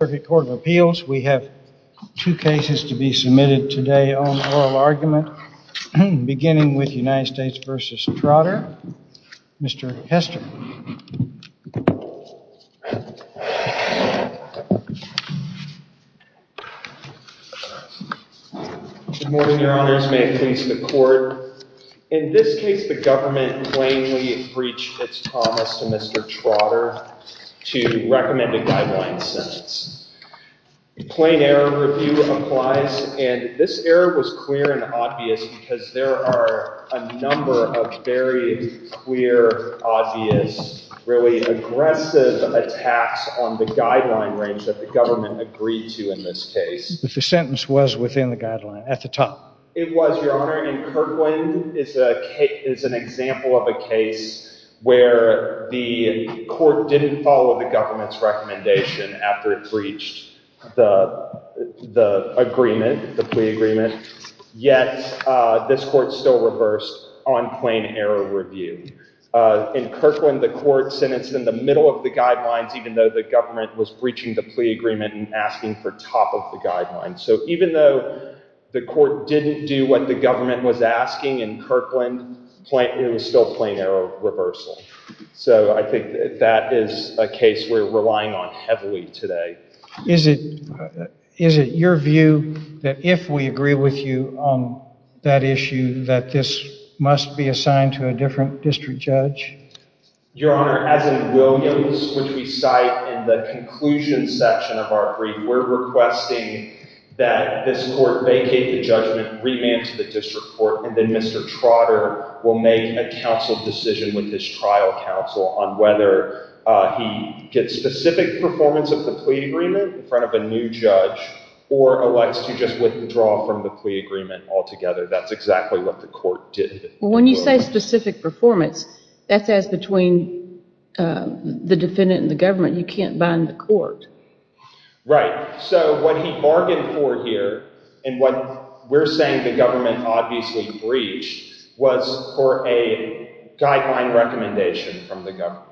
We have two cases to be submitted today on oral argument, beginning with United States v. Trotter. Mr. Hester. Good morning, Your Honors. May it please the Court. In this case, the government plainly breached its promise to Mr. Trotter to recommend a guideline sentence. Plain error review applies, and this error was clear and obvious because there are a number of very clear, obvious, really aggressive attacks on the guideline range that the government agreed to in this case. But the sentence was within the guideline, at the top. It was, Your Honor, and Kirkland is an example of a case where the court didn't follow the government's recommendation after it breached the agreement, the plea agreement, yet this court still reversed on plain error review. In Kirkland, the court sentenced in the middle of the guidelines, even though the government was breaching the plea agreement and asking for top of the guidelines. So even though the court didn't do what the government was asking in Kirkland, it was still plain error reversal. So I think that is a case we're relying on heavily today. Is it your view that if we agree with you on that issue, that this must be assigned to a different district judge? Your Honor, as in Williams, which we cite in the conclusion section of our brief, we're requesting that this court vacate the judgment, remand to the district court, and then Mr. Trotter will make a counsel decision with his trial counsel on whether he gets specific performance of the plea agreement in front of a new judge or elects to just withdraw from the plea agreement altogether. That's exactly what the court did. When you say specific performance, that says between the defendant and the government. You can't bind the court. Right. So what he bargained for here and what we're saying the government obviously breached was for a guideline recommendation from the government.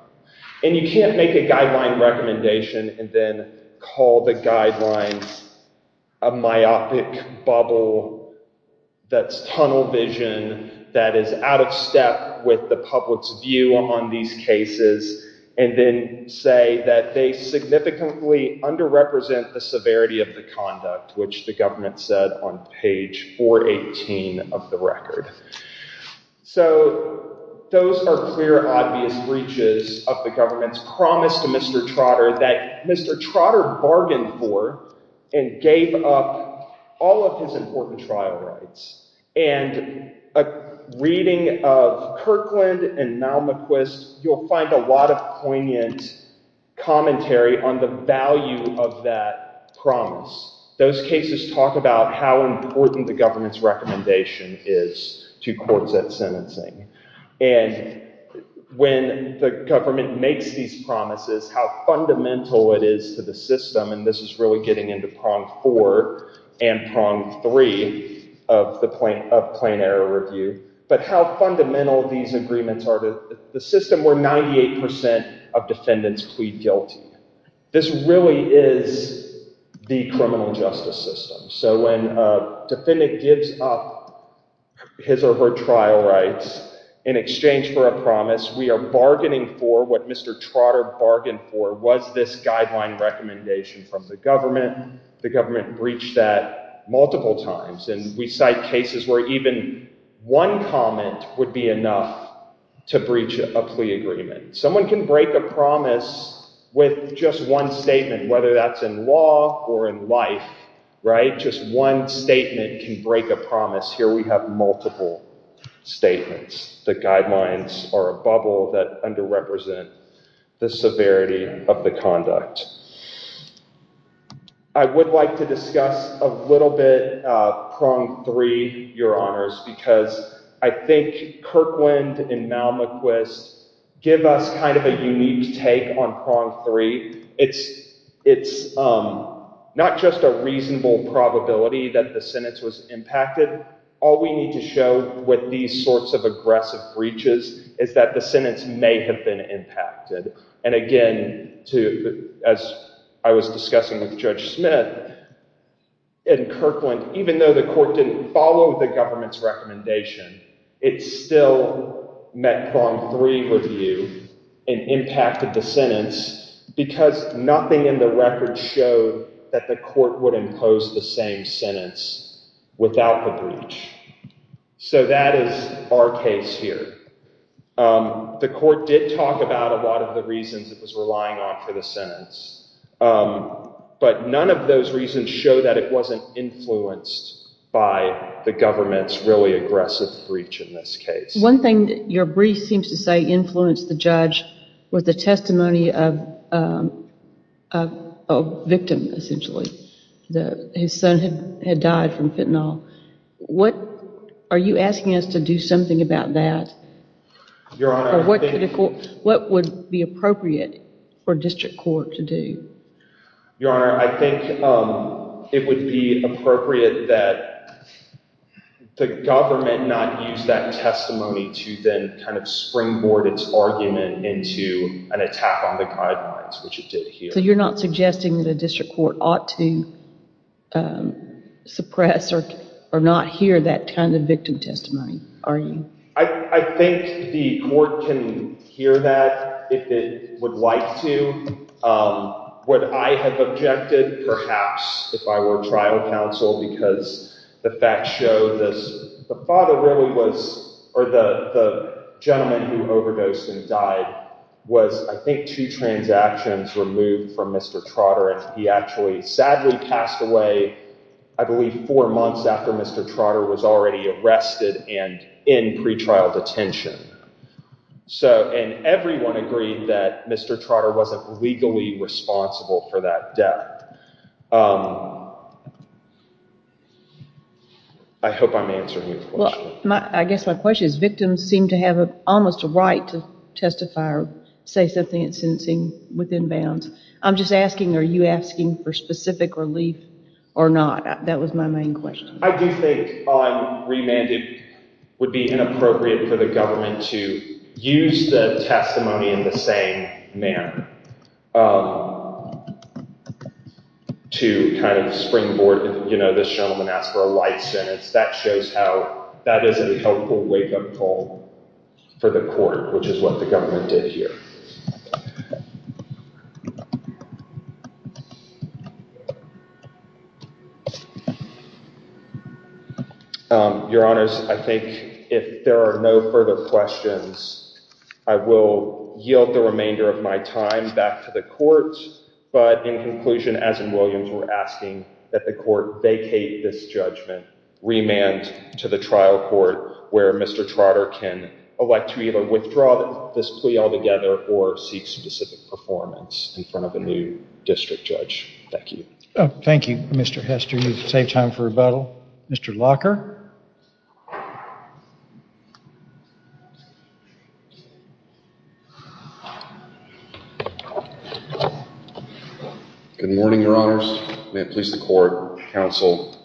And you can't make a guideline recommendation and then call the guidelines a myopic bubble that's tunnel vision, that is out of step with the public's view on these cases, and then say that they significantly underrepresent the severity of the conduct, which the government said on page 418 of the record. So those are clear, obvious breaches of the government's promise to Mr. Trotter that Mr. Trotter bargained for and gave up all of his important trial rights. And a reading of Kirkland and Malmquist, you'll find a lot of poignant commentary on the value of that promise. Those cases talk about how important the government's recommendation is to courts at sentencing. And when the government makes these promises, how fundamental it is to the system, and this is really getting into prong four and prong three of plain error review, but how fundamental these agreements are to the system where 98% of defendants plead guilty. This really is the criminal justice system. So when a defendant gives up his or her trial rights in exchange for a promise, we are bargaining for what Mr. Trotter bargained for was this guideline recommendation from the government. The government breached that multiple times. And we cite cases where even one comment would be enough to breach a plea agreement. Someone can break a promise with just one statement, whether that's in law or in life, right? Just one statement can break a promise. Here we have multiple statements. The guidelines are a bubble that underrepresent the severity of the conduct. I would like to discuss a little bit prong three, Your Honors, because I think Kirkland and Malmaquist give us kind of a unique take on prong three. It's not just a reasonable probability that the sentence was impacted. All we need to show with these sorts of aggressive breaches is that the sentence may have been impacted. And again, as I was discussing with Judge Smith, in Kirkland, even though the court didn't follow the government's recommendation, it still met prong three review and impacted the sentence because nothing in the record showed that the court would impose the same sentence without the breach. So that is our case here. The court did talk about a lot of the reasons it was relying on for the sentence, but none of those reasons show that it wasn't influenced by the government's really aggressive breach in this case. One thing your brief seems to say influenced the judge was the testimony of a victim, essentially. His son had died from fentanyl. Are you asking us to do something about that? What would be appropriate for district court to do? Your Honor, I think it would be appropriate that the government not use that testimony to then kind of springboard its argument into an attack on the guidelines, which it did here. So you're not suggesting the district court ought to suppress or not hear that kind of victim testimony, are you? I think the court can hear that if it would like to. What I have objected, perhaps, if I were trial counsel, because the facts show this. The father really was – or the gentleman who overdosed and died was, I think, two transactions removed from Mr. Trotter, and he actually sadly passed away, I believe, four months after Mr. Trotter was already arrested and in pretrial detention. And everyone agreed that Mr. Trotter wasn't legally responsible for that death. I hope I'm answering your question. I guess my question is victims seem to have almost a right to testify or say something in sentencing within bounds. I'm just asking, are you asking for specific relief or not? That was my main question. I do think on remand it would be inappropriate for the government to use the testimony in the same manner to kind of springboard this gentleman asked for a life sentence. That shows how that is a helpful wake-up call for the court, which is what the government did here. Your Honors, I think if there are no further questions, I will yield the remainder of my time back to the court. But in conclusion, as in Williams, we're asking that the court vacate this judgment, remand to the trial court where Mr. Trotter can elect to either withdraw this plea altogether or seek specific performance in front of a new district judge. Thank you. Thank you, Mr. Hester. You saved time for rebuttal. Mr. Locker? Good morning, Your Honors. May it please the court, counsel.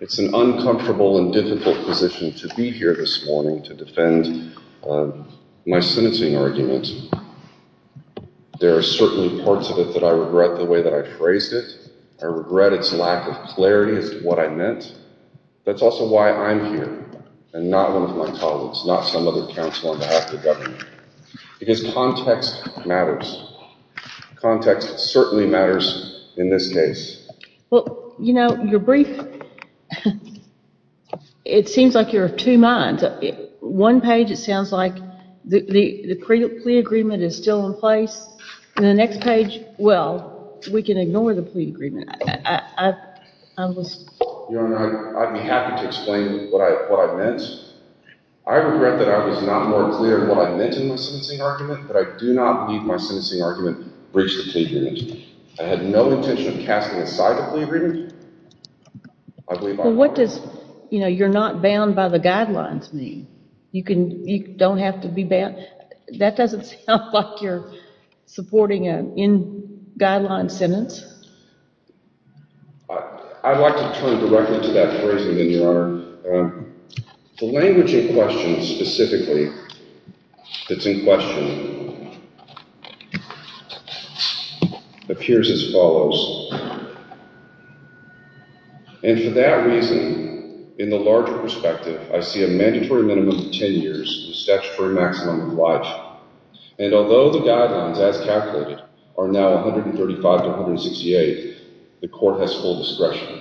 It's an uncomfortable and difficult position to be here this morning to defend my sentencing argument. There are certainly parts of it that I regret the way that I phrased it. I regret its lack of clarity as to what I meant. That's also why I'm here and not one of my colleagues, not some other counsel on behalf of the government. Because context matters. Context certainly matters in this case. Well, you know, your brief, it seems like you're of two minds. One page it sounds like the plea agreement is still in place. And the next page, well, we can ignore the plea agreement. Your Honor, I'd be happy to explain what I meant. I regret that I was not more clear in what I meant in my sentencing argument, that I do not need my sentencing argument to breach the plea agreement. I had no intention of casting it aside the plea agreement. Well, what does, you know, you're not bound by the guidelines mean? You don't have to be bound? That doesn't sound like you're supporting an in-guideline sentence. I'd like to turn directly to that phrasing then, Your Honor. The language in question specifically, that's in question, appears as follows. And for that reason, in the larger perspective, I see a mandatory minimum of ten years, statutory maximum of one. And although the guidelines, as calculated, are now 135 to 168, the court has full discretion.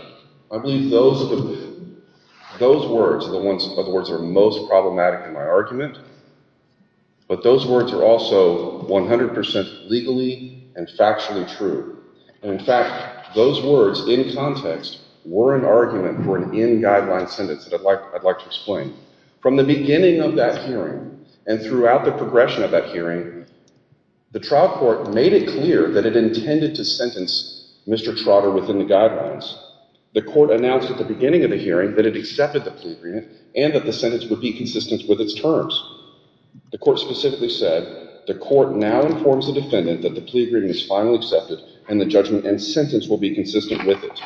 I believe those words are the ones that are most problematic in my argument. But those words are also 100 percent legally and factually true. And in fact, those words in context were an argument for an in-guideline sentence that I'd like to explain. From the beginning of that hearing and throughout the progression of that hearing, the trial court made it clear that it intended to sentence Mr. Trotter within the guidelines. The court announced at the beginning of the hearing that it accepted the plea agreement and that the sentence would be consistent with its terms. The court specifically said the court now informs the defendant that the plea agreement is finally accepted and the judgment and sentence will be consistent with it.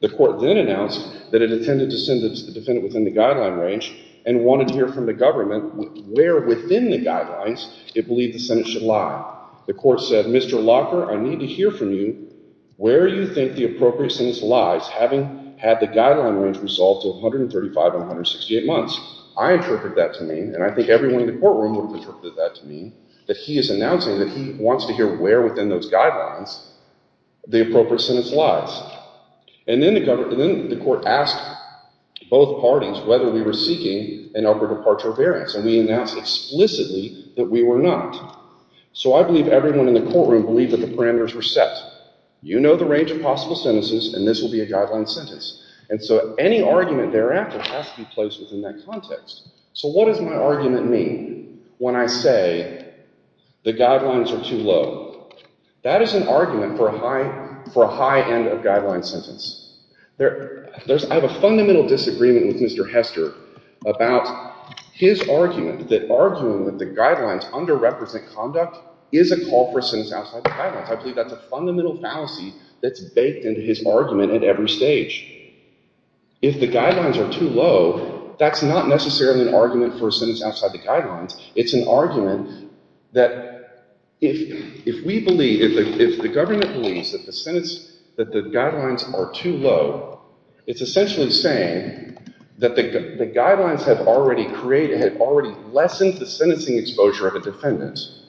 The court then announced that it intended to sentence the defendant within the guideline range and wanted to hear from the government where within the guidelines it believed the sentence should lie. The court said, Mr. Locker, I need to hear from you where you think the appropriate sentence lies, having had the guideline range resolved to 135 to 168 months. I interpreted that to mean, and I think everyone in the courtroom would have interpreted that to mean, that he is announcing that he wants to hear where within those guidelines the appropriate sentence lies. And then the court asked both parties whether we were seeking an upper departure variance, and we announced explicitly that we were not. So I believe everyone in the courtroom believed that the parameters were set. You know the range of possible sentences, and this will be a guideline sentence. And so any argument thereafter has to be placed within that context. So what does my argument mean when I say the guidelines are too low? That is an argument for a high end of guideline sentence. I have a fundamental disagreement with Mr. Hester about his argument that arguing with the guidelines underrepresent conduct is a call for a sentence outside the guidelines. I believe that's a fundamental fallacy that's baked into his argument at every stage. If the guidelines are too low, that's not necessarily an argument for a sentence outside the guidelines. It's an argument that if we believe, if the government believes that the guidelines are too low, it's essentially saying that the guidelines have already created, had already lessened the sentencing exposure of the defendants.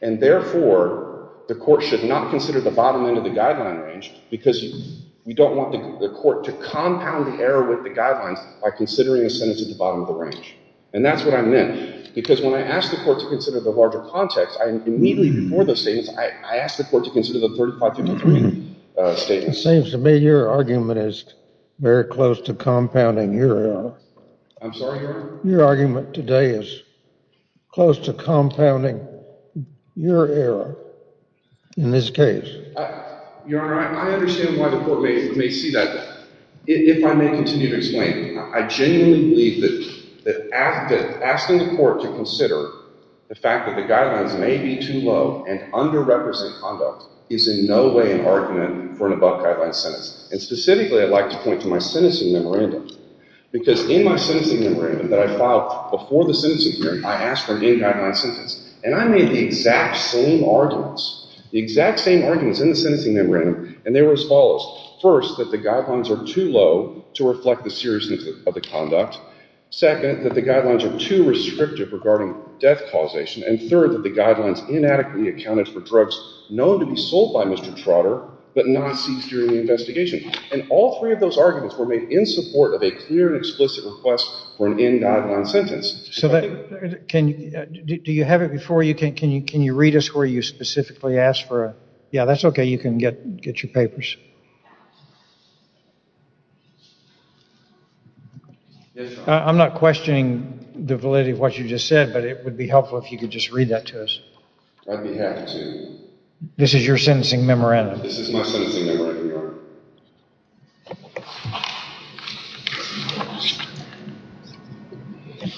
And therefore, the court should not consider the bottom end of the guideline range because we don't want the court to compound the error with the guidelines by considering a sentence at the bottom of the range. And that's what I meant. Because when I asked the court to consider the larger context, immediately before the statements, I asked the court to consider the 35 to 33 statements. It seems to me your argument is very close to compounding your error. I'm sorry, Your Honor? Your argument today is close to compounding your error in this case. Your Honor, I understand why the court may see that. If I may continue to explain, I genuinely believe that asking the court to consider the fact that the guidelines may be too low and under-represent conduct is in no way an argument for an above-guideline sentence. And specifically, I'd like to point to my sentencing memorandum because in my sentencing memorandum that I filed before the sentencing hearing, I asked for an in-guideline sentence, and I made the exact same arguments. The exact same arguments in the sentencing memorandum, and they were as follows. First, that the guidelines are too low to reflect the seriousness of the conduct. Second, that the guidelines are too restrictive regarding death causation. And third, that the guidelines inadequately accounted for drugs known to be sold by Mr. Trotter but not seized during the investigation. And all three of those arguments were made in support of a clear and explicit request for an in-guideline sentence. Do you have it before you? Can you read us where you specifically asked for it? Yeah, that's okay. You can get your papers. I'm not questioning the validity of what you just said, but it would be helpful if you could just read that to us. I'd be happy to. This is your sentencing memorandum. This is my sentencing memorandum, Your Honor.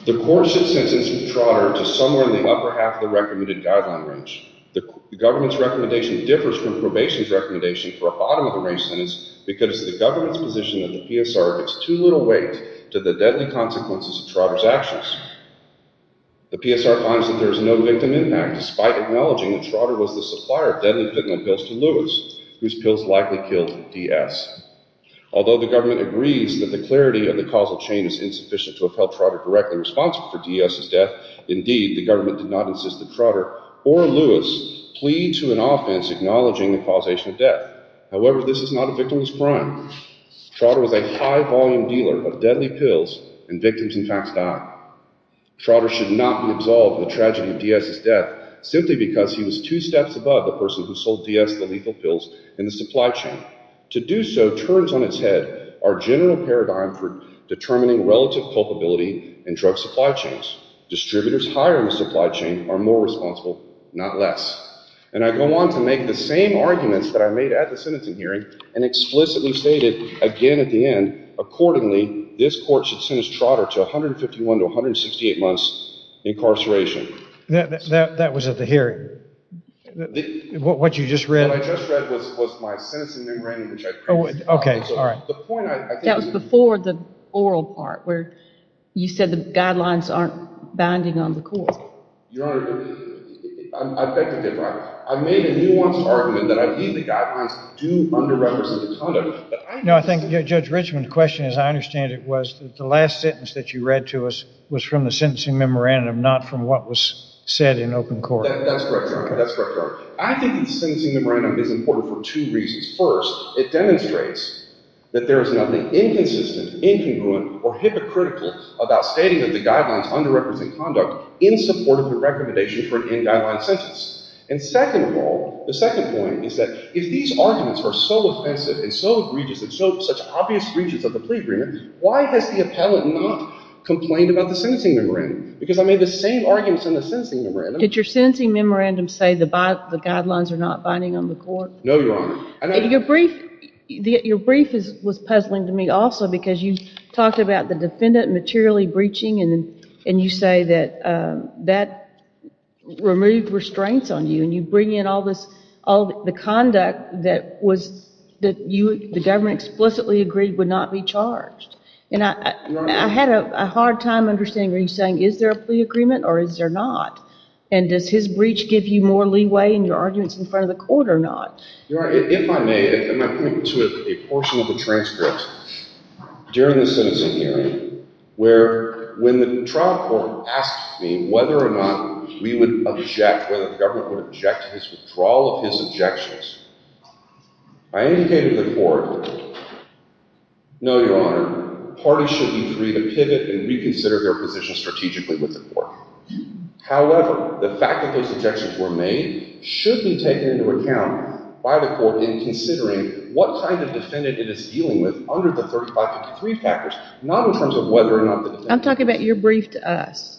The court should sentence Mr. Trotter to somewhere in the upper half of the recommended guideline range. The government's recommendation differs from probation's recommendation for a bottom-of-the-range sentence because the government's position of the PSR gives too little weight to the deadly consequences of Trotter's actions. The PSR finds that there is no victim impact, despite acknowledging that Trotter was the supplier of deadly fentanyl pills to Lewis, whose pills likely killed D.S. Although the government agrees that the clarity of the causal chain is insufficient to have held Trotter directly responsible for D.S.'s death, indeed, the government did not insist that Trotter or Lewis plead to an offense acknowledging the causation of death. However, this is not a victimless crime. Trotter was a high-volume dealer of deadly pills, and victims, in fact, die. Trotter should not be absolved of the tragedy of D.S.'s death simply because he was two steps above the person who sold D.S. the lethal pills in the supply chain. To do so turns on its head our general paradigm for determining relative culpability in drug supply chains. Distributors higher in the supply chain are more responsible, not less. And I go on to make the same arguments that I made at the sentencing hearing and explicitly stated again at the end, accordingly, this court should sentence Trotter to 151 to 168 months incarceration. That was at the hearing? What you just read? What I just read was my sentencing memorandum, which I previously filed. Okay, all right. That was before the oral part where you said the guidelines aren't binding on the court. Your Honor, I beg to differ. I made a nuanced argument that, ideally, guidelines do under-represent the conduct. No, I think, Judge Richman, the question, as I understand it, was that the last sentence that you read to us was from the sentencing memorandum, not from what was said in open court. That's correct, Your Honor. That's correct, Your Honor. I think the sentencing memorandum is important for two reasons. First, it demonstrates that there is nothing inconsistent, incongruent, or hypocritical about stating that the guidelines under-represent conduct in support of the recommendation for an in-guideline sentence. And second of all, the second point is that if these arguments are so offensive and so egregious and so such obvious breaches of the plea agreement, why has the appellate not complained about the sentencing memorandum? Because I made the same arguments in the sentencing memorandum. Did your sentencing memorandum say the guidelines are not binding on the court? No, Your Honor. Your brief was puzzling to me also because you talked about the defendant materially breaching and you say that that removed restraints on you and you bring in all the conduct that the government explicitly agreed would not be charged. And I had a hard time understanding what you're saying. Is there a plea agreement or is there not? And does his breach give you more leeway in your arguments in front of the court or not? Your Honor, if I may, if I may point to a portion of the transcript during the sentencing hearing where when the trial court asked me whether or not we would object, whether the government would object to his withdrawal of his objections, I indicated to the court, no, Your Honor, parties should agree to pivot and reconsider their position strategically with the court. However, the fact that those objections were made should be taken into account by the court in considering what kind of defendant it is dealing with under the 3553 factors, not in terms of whether or not the defendant... I'm talking about your brief to us.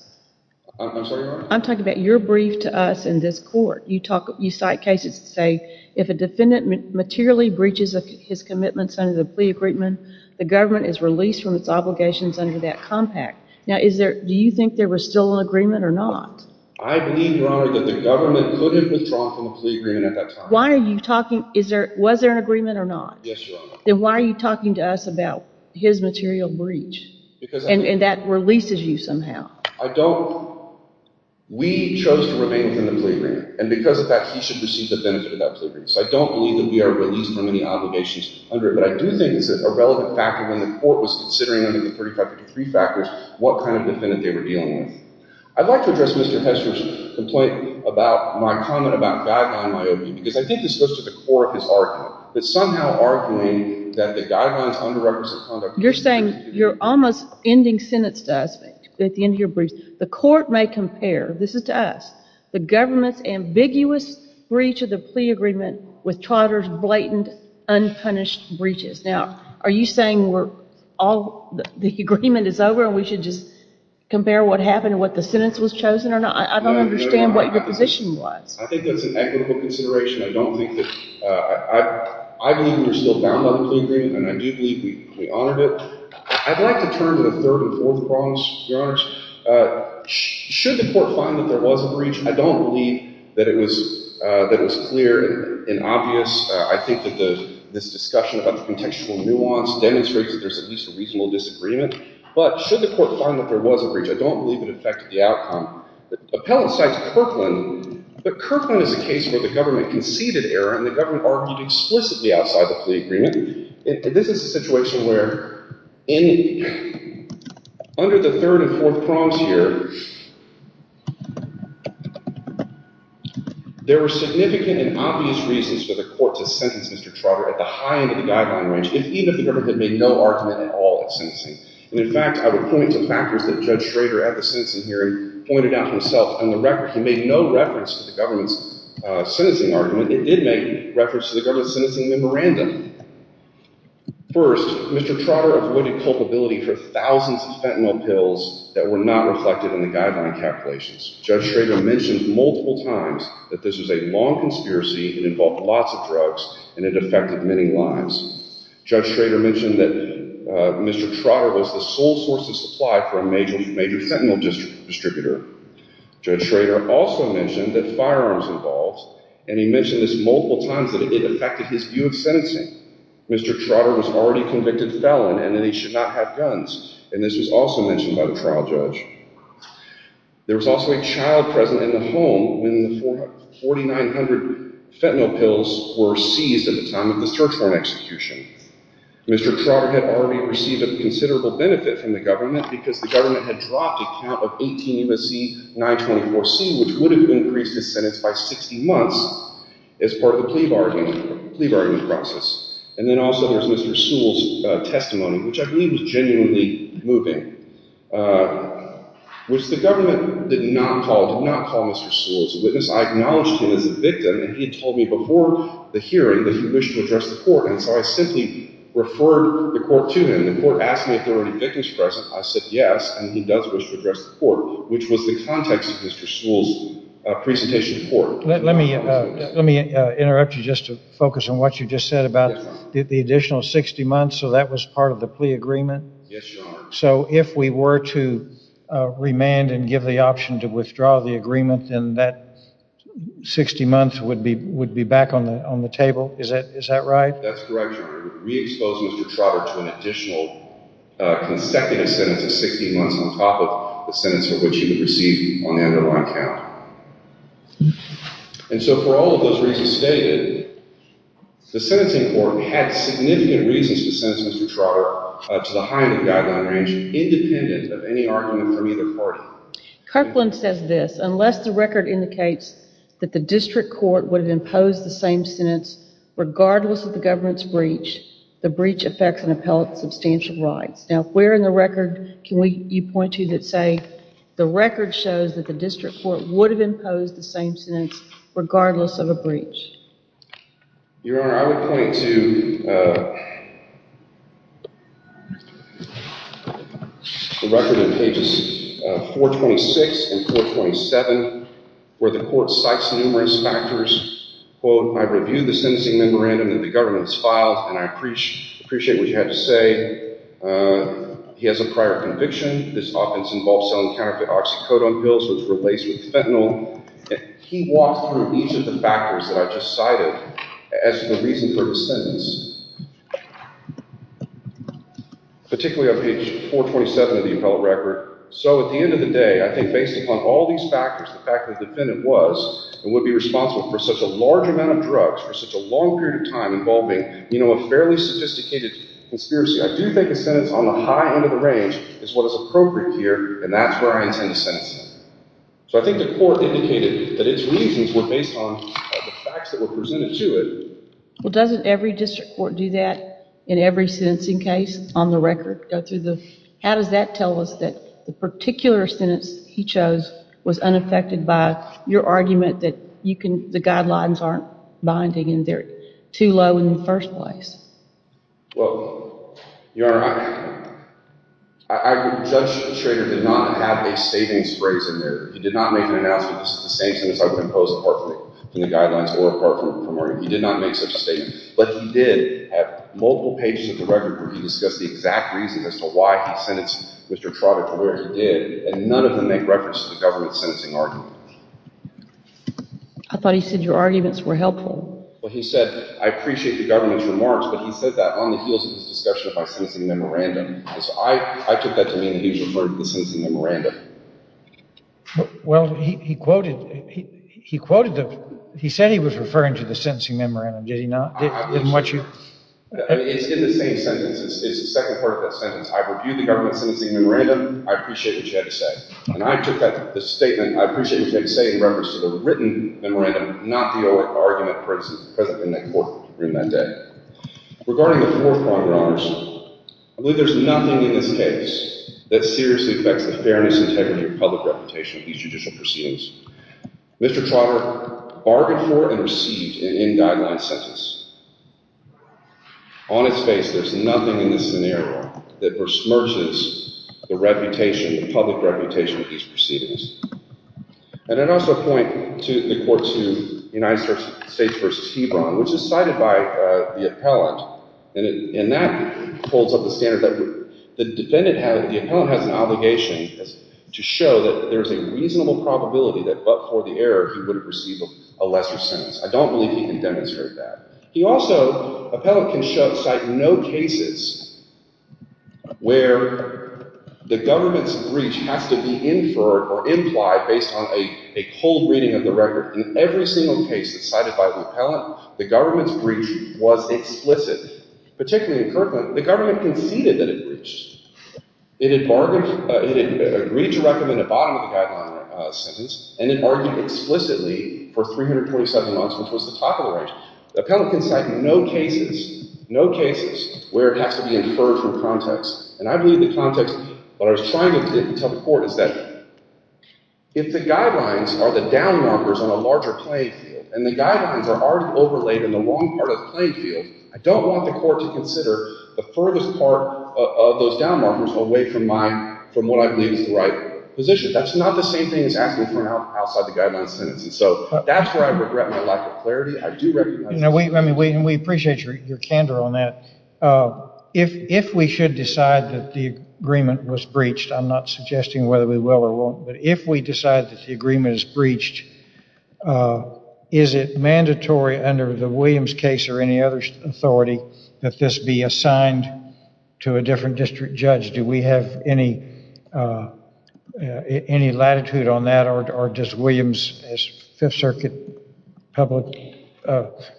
I'm sorry, Your Honor? I'm talking about your brief to us in this court. You cite cases that say if a defendant materially breaches his commitments under the plea agreement, the government is released from its obligations under that compact. Now, do you think there was still an agreement or not? I believe, Your Honor, that the government could have withdrawn from the plea agreement at that time. Why are you talking... Was there an agreement or not? Yes, Your Honor. Then why are you talking to us about his material breach? Because... And that releases you somehow. I don't... We chose to remain from the plea agreement. And because of that, he should receive the benefit of that plea agreement. So I don't believe that we are released from any obligations under it. But I do think it's a relevant factor when the court was considering under the 3553 factors what kind of defendant they were dealing with. I'd like to address Mr. Hester's complaint about my comment about guideline myopia because I think this goes to the core of his argument. That somehow arguing that the guidelines under requisite conduct... You're saying you're almost ending sentence to us at the end of your brief. The court may compare, this is to us, the government's ambiguous breach of the plea agreement with Trotter's blatant, unpunished breaches. Now, are you saying the agreement is over and we should just compare what happened and what the sentence was chosen or not? I don't understand what your position was. I think that's an equitable consideration. I don't think that... I believe we're still bound by the plea agreement, and I do believe we honored it. I'd like to turn to the third and fourth problems, Your Honors. Should the court find that there was a breach, I don't believe that it was clear and obvious. I think that this discussion about the contextual nuance demonstrates that there's at least a reasonable disagreement, but should the court find that there was a breach, I don't believe it affected the outcome. The appellant cites Kirkland, but Kirkland is a case where the government conceded error and the government argued explicitly outside the plea agreement. This is a situation where under the third and fourth problems here, there were significant and obvious reasons for the court to sentence Mr. Trotter at the high end of the guideline range if even the government had made no argument at all at sentencing. And in fact, I would point to factors that Judge Schrader at the sentencing hearing pointed out himself. On the record, he made no reference to the government's sentencing argument. It did make reference to the government's sentencing memorandum. First, Mr. Trotter avoided culpability for thousands of fentanyl pills that were not reflected in the guideline calculation. Judge Schrader mentioned multiple times that this was a long conspiracy, it involved lots of drugs, and it affected many lives. Judge Schrader mentioned that Mr. Trotter was the sole source of supply for a major fentanyl distributor. Judge Schrader also mentioned that firearms involved, and he mentioned this multiple times that it affected his view of sentencing. Mr. Trotter was already convicted felon and that he should not have guns, and this was also mentioned by the trial judge. There was also a child present in the home when the 4,900 fentanyl pills were seized at the time of the search warrant execution. Mr. Trotter had already received a considerable benefit from the government because the government had dropped a count of 18 U.S.C. 924C, which would have increased his sentence by 60 months as part of the plea bargaining process. And then also there's Mr. Sewell's testimony, which I believe is genuinely moving. The government did not call Mr. Sewell as a witness. I acknowledged him as a victim, and he had told me before the hearing that he wished to address the court, and so I simply referred the court to him. The court asked me if there were any victims present. I said yes, and he does wish to address the court, which was the context of Mr. Sewell's presentation to court. Let me interrupt you just to focus on what you just said about the additional 60 months, so that was part of the plea agreement? Yes, Your Honor. So if we were to remand and give the option to withdraw the agreement, then that 60 months would be back on the table? Is that right? That's correct, Your Honor. We would re-expose Mr. Trotter to an additional consecutive sentence of 60 months on top of the sentence for which he would receive on the underlying count. And so for all of those reasons stated, the sentencing court had significant reasons to sentence Mr. Trotter to the height of the guideline range, independent of any argument from either party. Kirkland says this, unless the record indicates that the district court would have imposed the same sentence regardless of the government's breach, the breach affects an appellate's substantial rights. Now, if we're in the record, can you point to that say, the record shows that the district court would have imposed the same sentence regardless of a breach? Your Honor, I would point to the record in pages 426 and 427, where the court cites numerous factors. Quote, I reviewed the sentencing memorandum that the government has filed, and I appreciate what you had to say. He has a prior conviction. This offense involves selling counterfeit oxycodone pills which were laced with fentanyl. He walked through each of the factors that I just cited as the reason for the sentence. Particularly on page 427 of the appellate record. So at the end of the day, I think based upon all these factors, the fact that the defendant was and would be responsible for such a large amount of drugs for such a long period of time involving, you know, a fairly sophisticated conspiracy, I do think a sentence on the high end of the range is what is appropriate here, and that's where I intend to sentence him. So I think the court indicated that its reasons were based on the facts that were presented to it. Well, doesn't every district court do that in every sentencing case on the record? How does that tell us that the particular sentence he chose was unaffected by your argument that the guidelines aren't binding and they're too low in the first place? Well, Your Honor, Judge Schrader did not have a statement phrase in there. He did not make an announcement that this is the same sentence I would impose apart from the guidelines or apart from argument. He did not make such a statement. But he did have multiple pages of the record where he discussed the exact reason as to why he sentenced Mr. Trotter to where he did, and none of them make reference to the government's sentencing argument. I thought he said your arguments were helpful. Well, he said, I appreciate the government's remarks, but he said that on the heels of his discussion of my sentencing memorandum. So I took that to mean he referred to the sentencing memorandum. Well, he quoted, he said he was referring to the sentencing memorandum. Did he not? It's in the same sentence. It's the second part of that sentence. I've reviewed the government's sentencing memorandum. I appreciate what you had to say. And I took that statement, I appreciate what you had to say in reference to the written memorandum, not the argument present in the court room that day. Regarding the fourth crime, Your Honors, I believe there's nothing in this case that seriously affects the fairness and integrity of public reputation of these judicial proceedings. Mr. Trotter bargained for and received an in-guideline sentence. On its face, there's nothing in this scenario that besmirches the reputation, the public reputation of these proceedings. And I'd also point the court to United States v. Hebron, which is cited by the appellant, and that holds up the standard that the defendant has, the appellant has an obligation to show that there's a reasonable probability that but for the error, he would have received a lesser sentence. I don't believe he can demonstrate that. He also, appellant can cite no cases where the government's breach has to be inferred or implied based on a cold reading of the record. In every single case that's cited by the appellant, the government's breach was explicit. Particularly in Kirkland, the government conceded that it breached. It had agreed to recommend a bottom-of-the-guideline sentence and it argued explicitly for 347 months, which was the top of the range. The appellant can cite no cases, no cases where it has to be inferred from context. And I believe the context, what I was trying to tell the court is that if the guidelines are the down-markers on a larger playing field, and the guidelines are already overlaid in the wrong part of the playing field, I don't want the court to consider the furthest part of those down-markers away from what I believe is the right position. That's not the same thing as asking for an outside-the-guidelines sentence. And so that's where I regret my lack of clarity. I do recognize... We appreciate your candor on that. If we should decide that the agreement was breached, I'm not suggesting whether we will or won't, but if we decide that the agreement is breached, is it mandatory under the Williams case or any other authority that this be assigned to a different district judge? Do we have any latitude on that? Or does Williams' Fifth Circuit public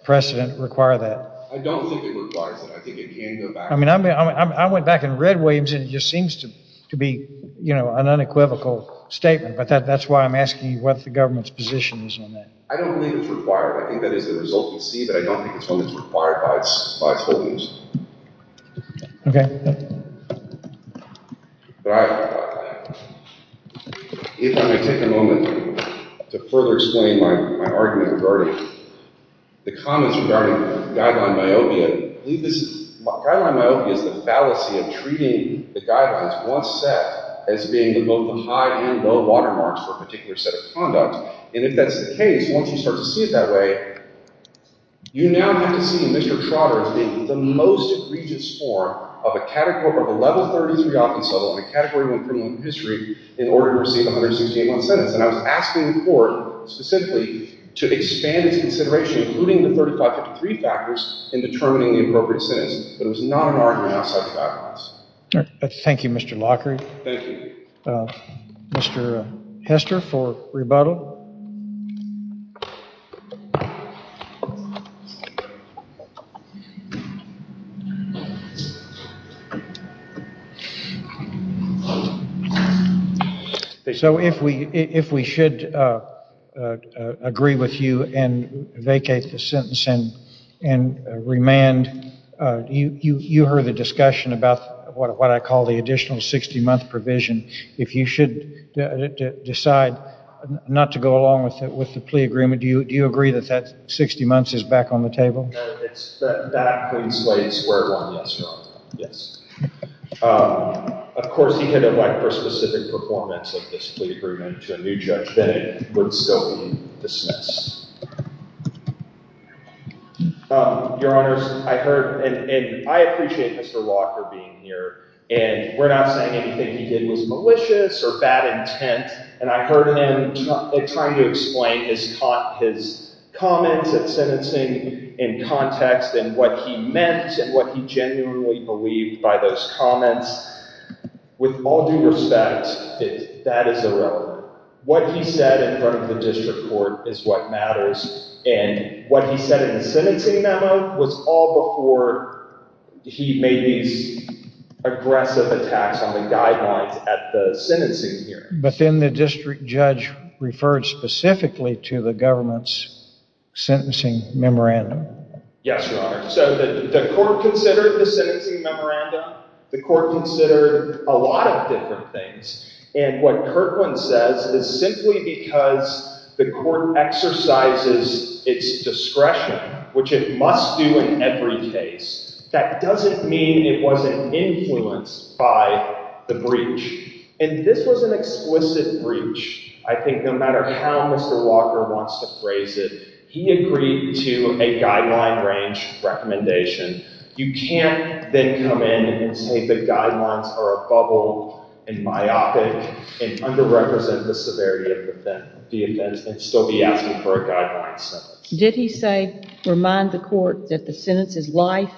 precedent require that? I don't think it requires it. I think it can go back... I mean, I went back and read Williams and it just seems to be an unequivocal statement, but that's why I'm asking what the government's position is on that. I don't believe it's required. I think that is the result we see, but I don't think it's one that's required by its holdings. Okay. But I... If I may take a moment to further explain my argument regarding the comments regarding guideline myopia. Guideline myopia is the fallacy of treating the guidelines once set as being both the high and low watermarks for a particular set of conduct. And if that's the case, once you start to see it that way, you now have to see Mr. Trotter as being the most egregious form of a Category 1 criminal history in order to receive a 168-month sentence. And I was asking the court specifically to expand its consideration, including the 3553 factors, in determining the appropriate sentence, but it was not an argument outside the guidelines. Thank you, Mr. Lockery. Thank you. Mr. Hester for rebuttal. So if we should agree with you and vacate the sentence and remand, you heard the discussion about what I call the additional 60-month provision. If you should decide not to go along with the plea agreement, do you agree that that 60 months is back on the table? That coincides where one gets wrong. Of course, he could elect for specific performance of this plea agreement to a new judge, then it would still be dismissed. Your Honors, I heard, and I appreciate Mr. Locker being here, and we're not saying anything he did was malicious or bad intent, and I heard him trying to explain his comments at sentencing in context and what he meant and what he genuinely believed by those comments. With all due respect, that is irrelevant. What he said in front of the district court is what matters, and what he said in the sentencing memo was all before he made these aggressive attacks on the guidelines at the sentencing hearing. But then the district judge referred specifically to the government's sentencing memorandum. Yes, Your Honor. So the court considered the sentencing memorandum, the court considered a lot of different things, and what Kirkland says is simply because the court exercises its discretion, which it must do in every case, that doesn't mean it wasn't influenced by the breach. And this was an explicit breach. I think no matter how Mr. Locker wants to phrase it, he agreed to a guideline-range recommendation. You can't then come in and say the guidelines are a bubble and myopic and underrepresent the severity of the offense and still be asking for a guideline sentence. Did he say, remind the court that the sentence is life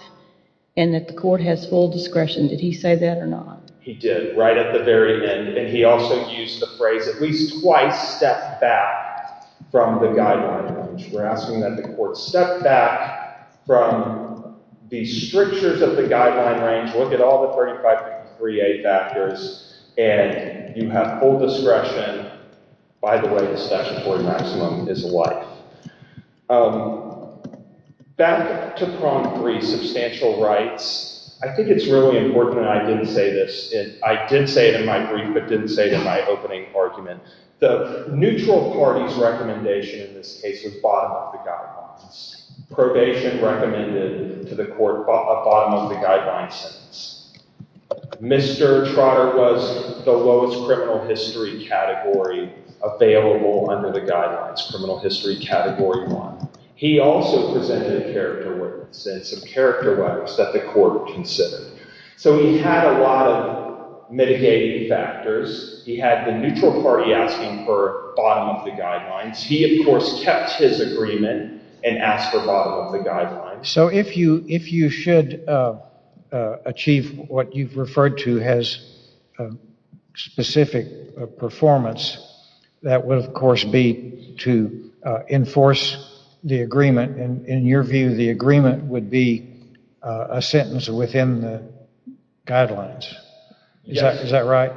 and that the court has full discretion? Did he say that or not? He did right at the very end, and he also used the phrase at least twice step back from the guideline range. We're asking that the court step back from the strictures of the guideline range. Look at all the 35.3a factors, and you have full discretion. By the way, the statutory maximum is life. Back to Prompt 3, substantial rights. I think it's really important I didn't say this. I did say it in my brief, but didn't say it in my opening argument. The neutral party's recommendation in this case was bottom-up the guidelines. Probation recommended to the court a bottom-up the guidelines sentence. Mr. Trotter was the lowest criminal history category available under the guidelines, criminal history category one. He also presented character rights and some character rights that the court considered. So he had a lot of mitigating factors. He had the neutral party asking for bottom-up the guidelines. He, of course, kept his agreement and asked for bottom-up the guidelines. So if you should achieve what you've referred to as specific performance, that would, of course, be to enforce the agreement. In your view, the agreement would be a sentence within the guidelines. Is that right?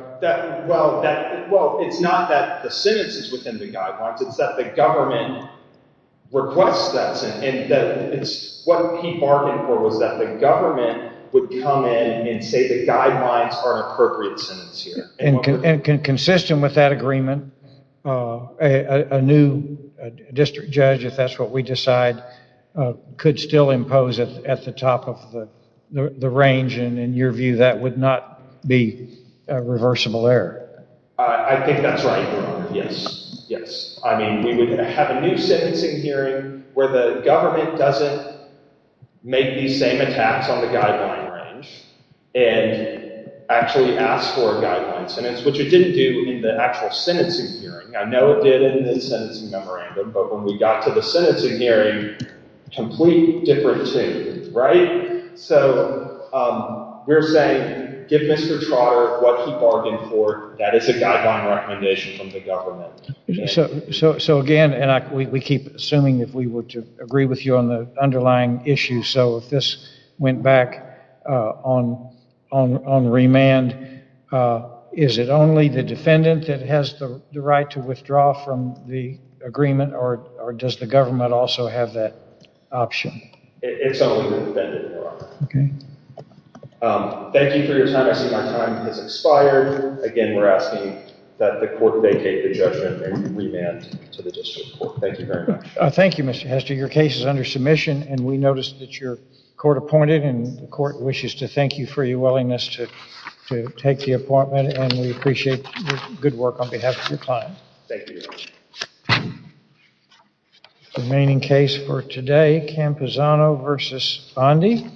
Well, it's not that the sentence is within the guidelines. It's that the government requests that sentence. And what he bargained for was that the government would come in and say the guidelines are an appropriate sentence here. And consistent with that agreement, a new district judge, if that's what we decide, could still impose it at the top of the range. And in your view, that would not be a reversible error. I think that's right, Your Honor. Yes, yes. I mean, we would have a new sentencing hearing where the government doesn't make these same attacks on the guideline range and actually ask for a guideline sentence, which it didn't do in the actual sentencing hearing. I know it did in the sentencing memorandum, but when we got to the sentencing hearing, complete different two, right? So we're saying give Mr. Trotter what he bargained for. That is a guideline recommendation from the government. So again, and we keep assuming if we were to agree with you on the underlying issue, so if this went back on remand, is it only the defendant that has the right to withdraw from the agreement, or does the government also have that option? It's only the defendant, Your Honor. Okay. Thank you for your time. I see my time has expired. Again, we're asking that the court vacate the judgment and remand to the district court. Thank you very much. Thank you, Mr. Hester. Your case is under submission, and we noticed that your court appointed, and the court wishes to thank you for your willingness to take the appointment, and we appreciate your good work on behalf of your client. Thank you, Your Honor. Remaining case for today, Camposano v. Bondi.